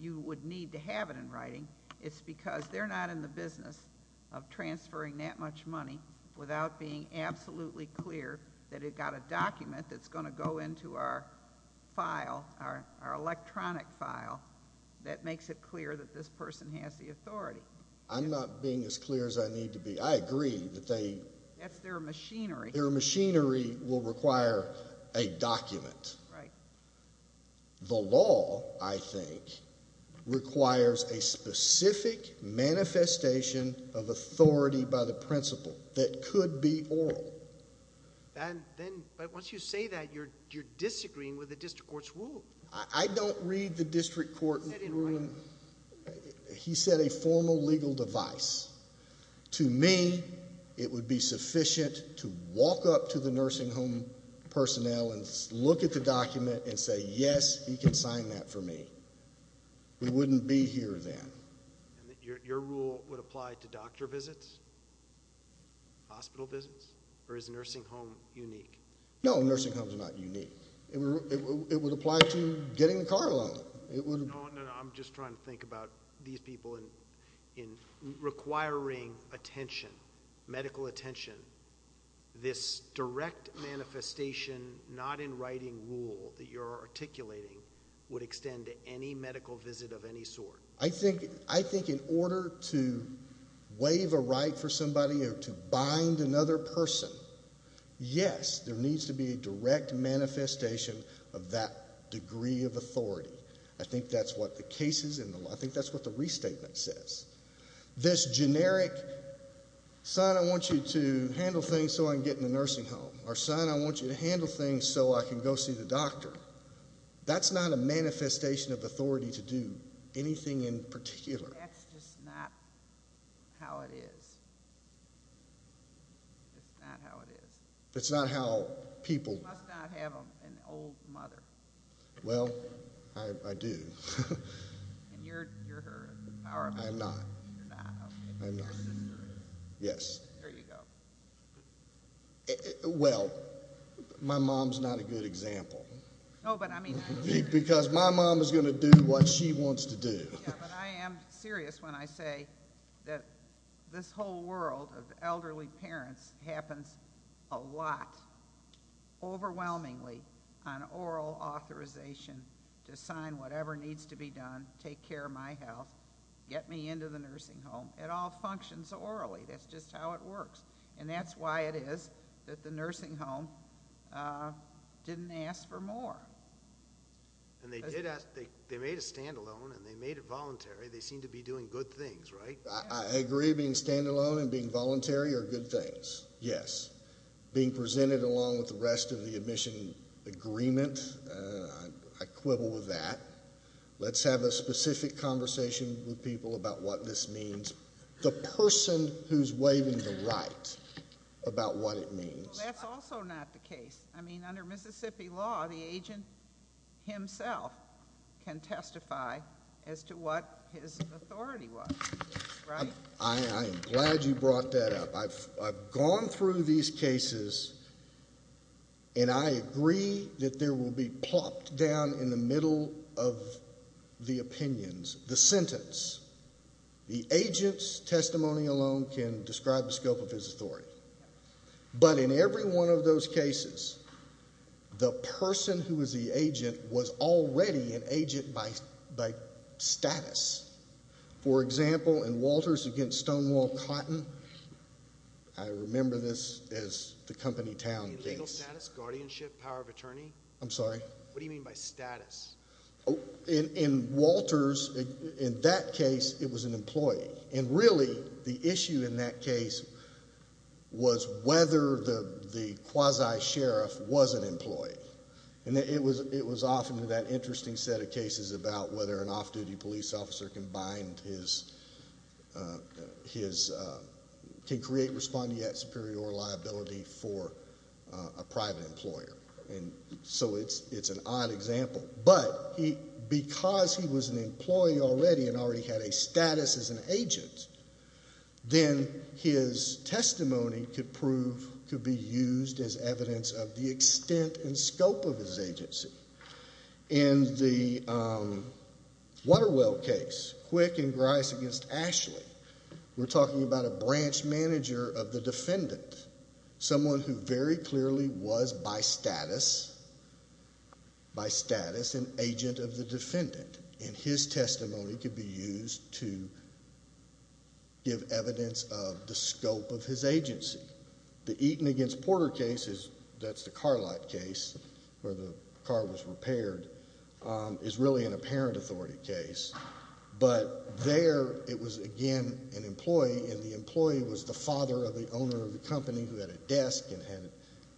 you would need to have it in writing. It's because they're not in the business of transferring that much money without being absolutely clear that it got a document that's going to go into our file, our electronic file, that makes it clear that this person has the authority. I'm not being as clear as I need to be. I agree that they... That's their machinery. Their machinery will require a document. Right. The law, I think, requires a specific manifestation of authority by the principal that could be oral. But once you say that, you're disagreeing with the district court's rule. I don't read the district court rule. He said a formal legal device. To me, it would be sufficient to walk up to the nursing home personnel and look at the document and say, yes, he can sign that for me. We wouldn't be here then. Your rule would apply to doctor visits, hospital visits? Or is nursing home unique? No, nursing homes are not unique. It would apply to getting the car loan. I'm just trying to think about these people. In requiring attention, medical attention, this direct manifestation not in writing rule that you're articulating would extend to any medical visit of any sort. I think in order to waive a right for somebody or to bind another person, yes, there needs to be a direct manifestation of that degree of authority. I think that's what the cases and I think that's what the restatement says. This generic, son, I want you to handle things so I can get in the nursing home, or son, I want you to handle things so I can go see the doctor, that's not a manifestation of authority to do anything in particular. That's just not how it is. It's not how it is. It's not how people. You must not have an old mother. Well, I do. And you're her. I'm not. You're not, okay. I'm not. Yes. There you go. Well, my mom's not a good example. No, but I mean. Because my mom is going to do what she wants to do. Yeah, but I am serious when I say that this whole world of elderly parents happens a lot, overwhelmingly, on oral authorization to sign whatever needs to be done, take care of my health, get me into the nursing home. It all functions orally. That's just how it works. And that's why it is that the nursing home didn't ask for more. And they did ask. They made a standalone, and they made it voluntary. They seem to be doing good things, right? I agree. Being standalone and being voluntary are good things, yes. Being presented along with the rest of the admission agreement, I quibble with that. Let's have a specific conversation with people about what this means. The person who's waving the right about what it means. Well, that's also not the case. I mean, under Mississippi law, the agent himself can testify as to what his authority was, right? I am glad you brought that up. I've gone through these cases, and I agree that there will be plopped down in the middle of the opinions, the sentence. The agent's testimony alone can describe the scope of his authority. But in every one of those cases, the person who was the agent was already an agent by status. For example, in Walters against Stonewall Cotton, I remember this as the company town case. You mean legal status, guardianship, power of attorney? I'm sorry? What do you mean by status? In Walters, in that case, it was an employee. And really, the issue in that case was whether the quasi-sheriff was an employee. And it was often with that interesting set of cases about whether an off-duty police officer can bind his, can create respondeat superior liability for a private employer. And so it's an odd example. But because he was an employee already and already had a status as an agent, then his testimony could prove, could be used as evidence of the extent and scope of his agency. In the Waterwell case, Quick and Grice against Ashley, we're talking about a branch manager of the defendant, someone who very clearly was by status, by status an agent of the defendant. And his testimony could be used to give evidence of the scope of his agency. The Eaton against Porter case is, that's the car lot case where the car was repaired, is really an apparent authority case. But there it was again an employee, and the employee was the father of the owner of the company who had a desk and had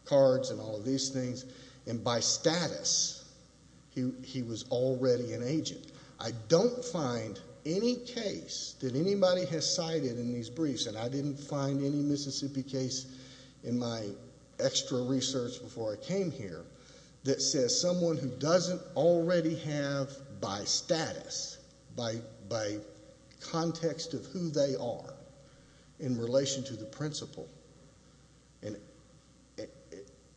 cards and all of these things. And by status, he was already an agent. I don't find any case that anybody has cited in these briefs, and I didn't find any Mississippi case in my extra research before I came here, that says someone who doesn't already have by status, by context of who they are in relation to the principal,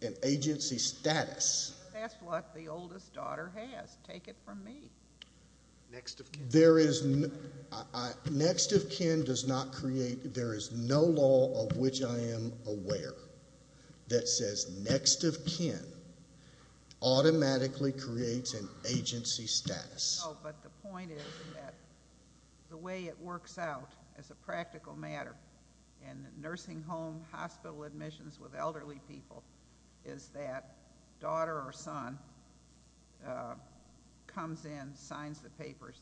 an agency status. That's what the oldest daughter has. Take it from me. Next of kin. Next of kin does not create, there is no law of which I am aware that says next of kin automatically creates an agency status. No, but the point is that the way it works out as a practical matter in nursing home hospital admissions with elderly people is that daughter or son comes in, signs the papers,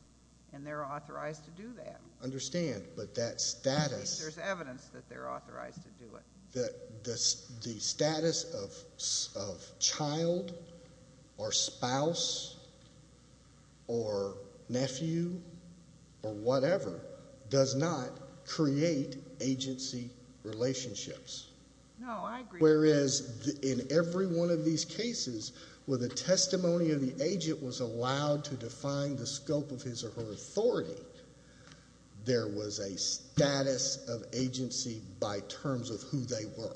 and they're authorized to do that. I understand, but that status. At least there's evidence that they're authorized to do it. The status of child or spouse or nephew or whatever does not create agency relationships. No, I agree. Whereas in every one of these cases where the testimony of the agent was allowed to define the scope of his or her authority, there was a status of agency by terms of who they were.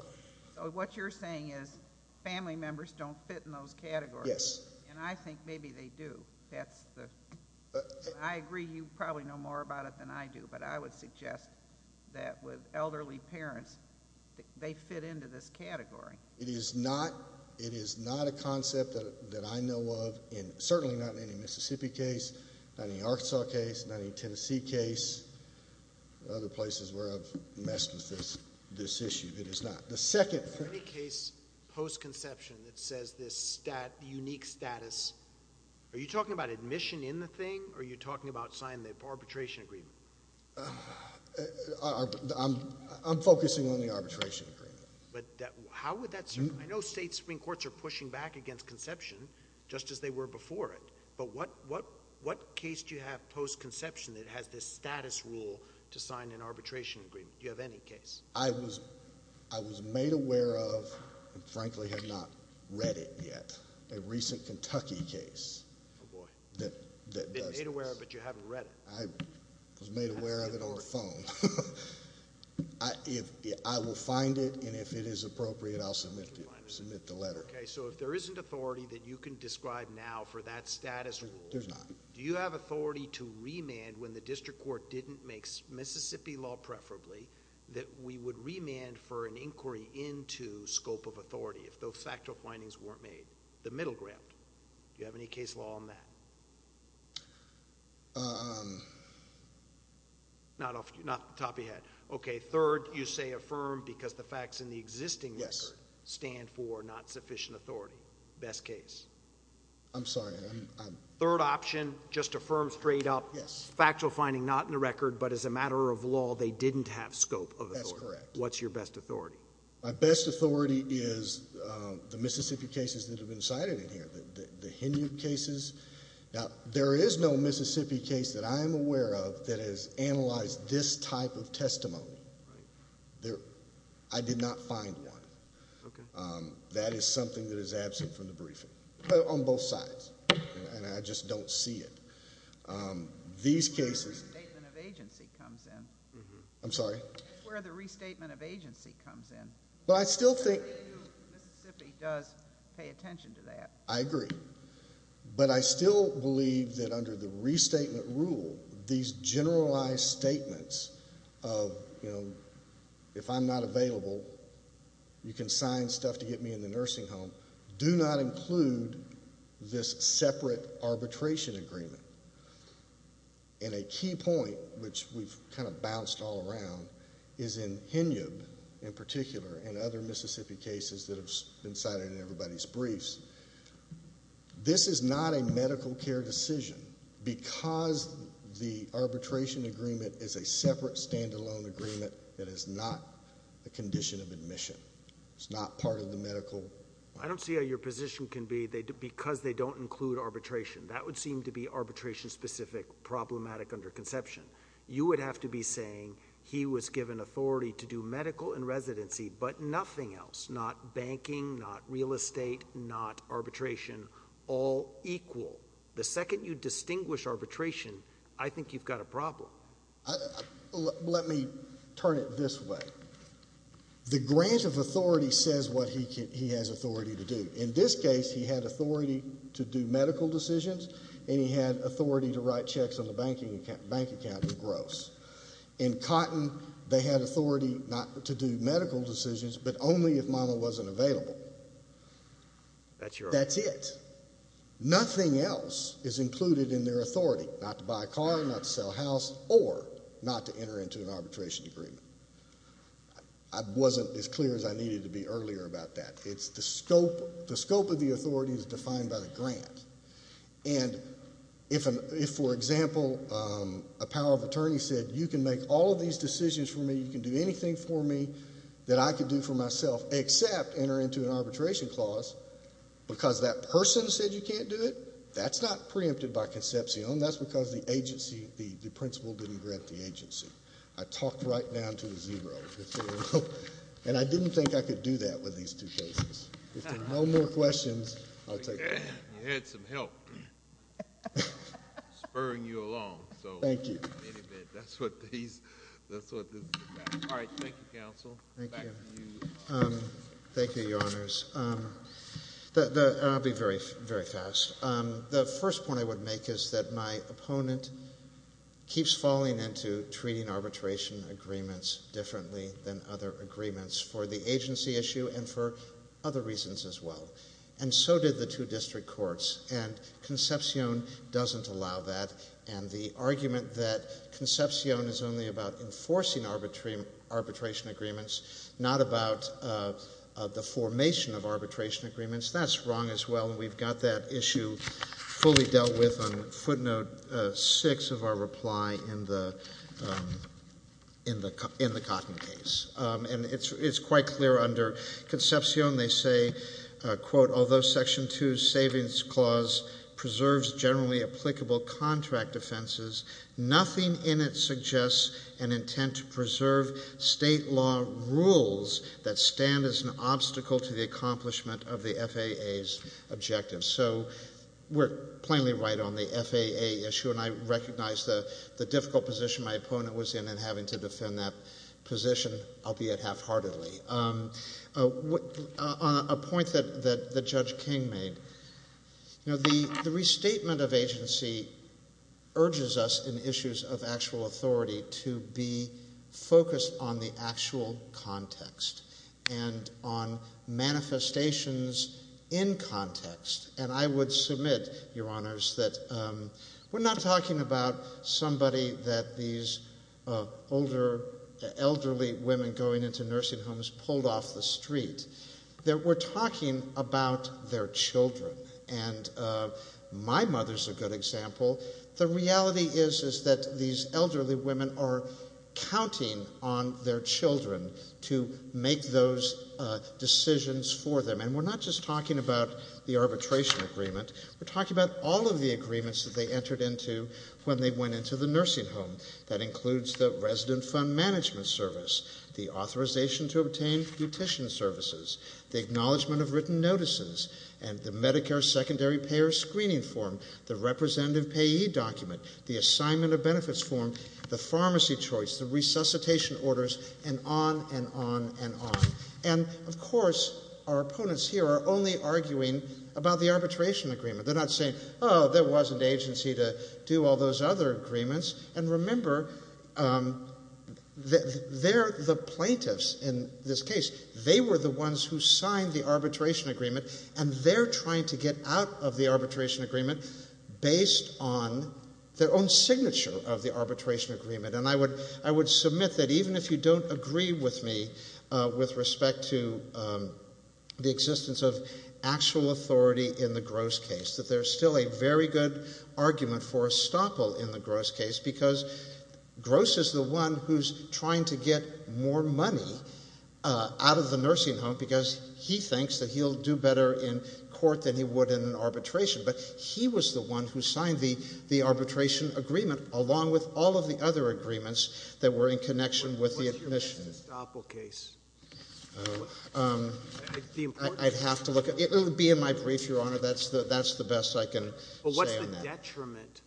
So what you're saying is family members don't fit in those categories. Yes. And I think maybe they do. I agree you probably know more about it than I do, but I would suggest that with elderly parents, they fit into this category. It is not a concept that I know of, certainly not in any Mississippi case, not in any Arkansas case, not in any Tennessee case, or other places where I've messed with this issue. It is not. The second... For any case post-conception that says this unique status, are you talking about admission in the thing, or are you talking about signing the arbitration agreement? I'm focusing on the arbitration agreement. But how would that... I know state Supreme Courts are pushing back against conception just as they were before it, but what case do you have post-conception that has this status rule to sign an arbitration agreement? Do you have any case? I was made aware of, and frankly have not read it yet, a recent Kentucky case that does this. Oh, boy. You've been made aware of it, but you haven't read it. I was made aware of it on the phone. I will find it, and if it is appropriate, I'll submit the letter. Okay, so if there isn't authority that you can describe now for that status rule... There's not. Do you have authority to remand when the district court didn't make Mississippi law preferably, that we would remand for an inquiry into scope of authority if those factual findings weren't made, the middle ground? Do you have any case law on that? Not off the top of your head. Okay, third, you say affirmed because the facts in the existing record stand for not sufficient authority. Best case. I'm sorry. Third option, just affirmed straight up. Yes. Factual finding not in the record, but as a matter of law, they didn't have scope of authority. That's correct. What's your best authority? My best authority is the Mississippi cases that have been cited in here, the HENU cases. Now, there is no Mississippi case that I am aware of that has analyzed this type of testimony. Right. I did not find one. Okay. That is something that is absent from the briefing on both sides, and I just don't see it. These cases... That's where the restatement of agency comes in. I'm sorry? That's where the restatement of agency comes in. Well, I still think... Mississippi does pay attention to that. I agree. But I still believe that under the restatement rule, these generalized statements of, you know, if I'm not available, you can sign stuff to get me in the nursing home, do not include this separate arbitration agreement. And a key point, which we've kind of bounced all around, is in HENU, in particular, and other Mississippi cases that have been cited in everybody's briefs, this is not a medical care decision because the arbitration agreement is a separate stand-alone agreement that is not a condition of admission. It's not part of the medical... I don't see how your position can be because they don't include arbitration. That would seem to be arbitration-specific problematic under conception. You would have to be saying he was given authority to do medical and residency but nothing else, not banking, not real estate, not arbitration, all equal. The second you distinguish arbitration, I think you've got a problem. Let me turn it this way. The grant of authority says what he has authority to do. In this case, he had authority to do medical decisions and he had authority to write checks on the bank account in gross. In Cotton, they had authority not to do medical decisions but only if mama wasn't available. That's it. Nothing else is included in their authority, not to buy a car, not to sell a house, or not to enter into an arbitration agreement. I wasn't as clear as I needed to be earlier about that. The scope of the authority is defined by the grant. If, for example, a power of attorney said, you can make all of these decisions for me, you can do anything for me that I can do for myself except enter into an arbitration clause because that person said you can't do it, that's not preempted by conception. That's because the principal didn't grant the agency. I talked right down to the zero. I didn't think I could do that with these two cases. If there are no more questions, I'll take them. You had some help spurring you along. Thank you. That's what this is about. Thank you, counsel. Thank you, Your Honors. I'll be very fast. The first point I would make is that my opponent keeps falling into treating arbitration agreements differently than other agreements for the agency issue and for other reasons as well. And so did the two district courts. And Concepcion doesn't allow that. And the argument that Concepcion is only about enforcing arbitration agreements, not about the formation of arbitration agreements, that's wrong as well. And we've got that issue fully dealt with on footnote six of our reply in the Cotton case. And it's quite clear under Concepcion they say, quote, although section two's savings clause preserves generally applicable contract offenses, nothing in it suggests an intent to preserve state law rules that stand as an obstacle to the accomplishment of the FAA's objectives. So we're plainly right on the FAA issue, and I recognize the difficult position my opponent was in in having to defend that position, albeit halfheartedly. On a point that Judge King made, the restatement of agency urges us in issues of actual authority to be focused on the actual context and on manifestations in context. And I would submit, Your Honors, that we're not talking about somebody that these older, elderly women going into nursing homes pulled off the street. We're talking about their children. And my mother's a good example. The reality is that these elderly women are counting on their children to make those decisions for them. And we're not just talking about the arbitration agreement. We're talking about all of the agreements that they entered into when they went into the nursing home. That includes the resident fund management service, the authorization to obtain petition services, the acknowledgement of written notices, and the Medicare secondary payer screening form, the representative payee document, the assignment of benefits form, the pharmacy choice, the resuscitation orders, and on and on and on. And, of course, our opponents here are only arguing about the arbitration agreement. They're not saying, oh, there wasn't agency to do all those other agreements. And remember, they're the plaintiffs in this case. They were the ones who signed the arbitration agreement, and they're trying to get out of the arbitration agreement based on their own signature of the arbitration agreement. And I would submit that even if you don't agree with me with respect to the existence of actual authority in the Gross case, that there's still a very good argument for a stopple in the Gross case because Gross is the one who's trying to get more money out of the nursing home because he thinks that he'll do better in court than he would in an arbitration. But he was the one who signed the arbitration agreement, along with all of the other agreements that were in connection with the admission. What's your best stopple case? I'd have to look. It'll be in my brief, Your Honor. That's the best I can say on that. Well, what's the detriment?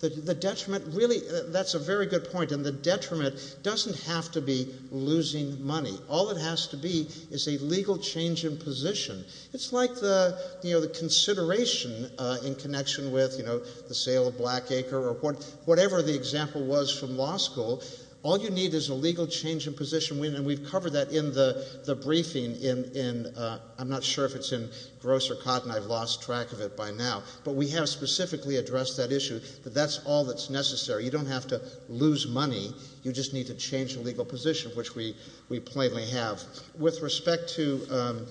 The detriment, really, that's a very good point. And the detriment doesn't have to be losing money. All it has to be is a legal change in position. It's like the consideration in connection with the sale of Blackacre or whatever the example was from law school. All you need is a legal change in position. And we've covered that in the briefing. I'm not sure if it's in Gross or Cotton. I've lost track of it by now. But we have specifically addressed that issue, that that's all that's necessary. You don't have to lose money. You just need to change the legal position, which we plainly have. With respect to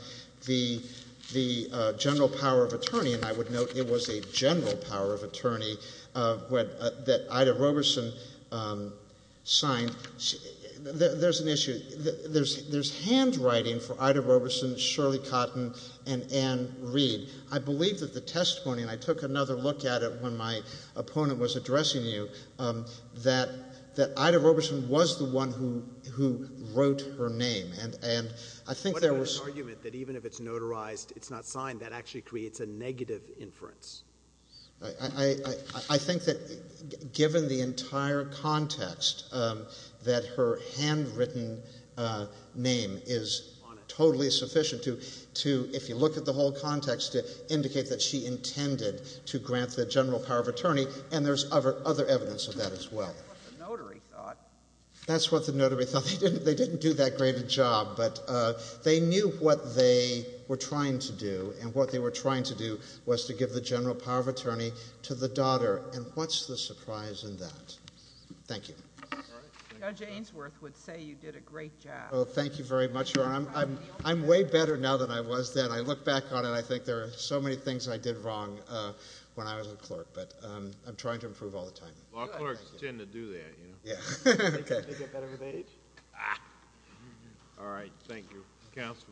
the general power of attorney, and I would note it was a general power of attorney that Ida Roberson signed, there's an issue. There's handwriting for Ida Roberson, Shirley Cotton, and Ann Reed. I believe that the testimony, and I took another look at it when my opponent was addressing you, that Ida Roberson was the one who wrote her name. And I think there was — What about the argument that even if it's notarized, it's not signed, that actually creates a negative inference? I think that given the entire context, that her handwritten name is totally sufficient to, if you look at the whole context, to indicate that she intended to grant the general power of attorney, and there's other evidence of that as well. That's what the notary thought. That's what the notary thought. They didn't do that great a job, but they knew what they were trying to do, and what they were trying to do was to give the general power of attorney to the daughter. And what's the surprise in that? Thank you. Judge Ainsworth would say you did a great job. Oh, thank you very much, Your Honor. I'm way better now than I was then. And I look back on it, and I think there are so many things I did wrong when I was a clerk, but I'm trying to improve all the time. Law clerks tend to do that, you know. Yeah. Okay. They get better with age. All right. Thank you. Counsel.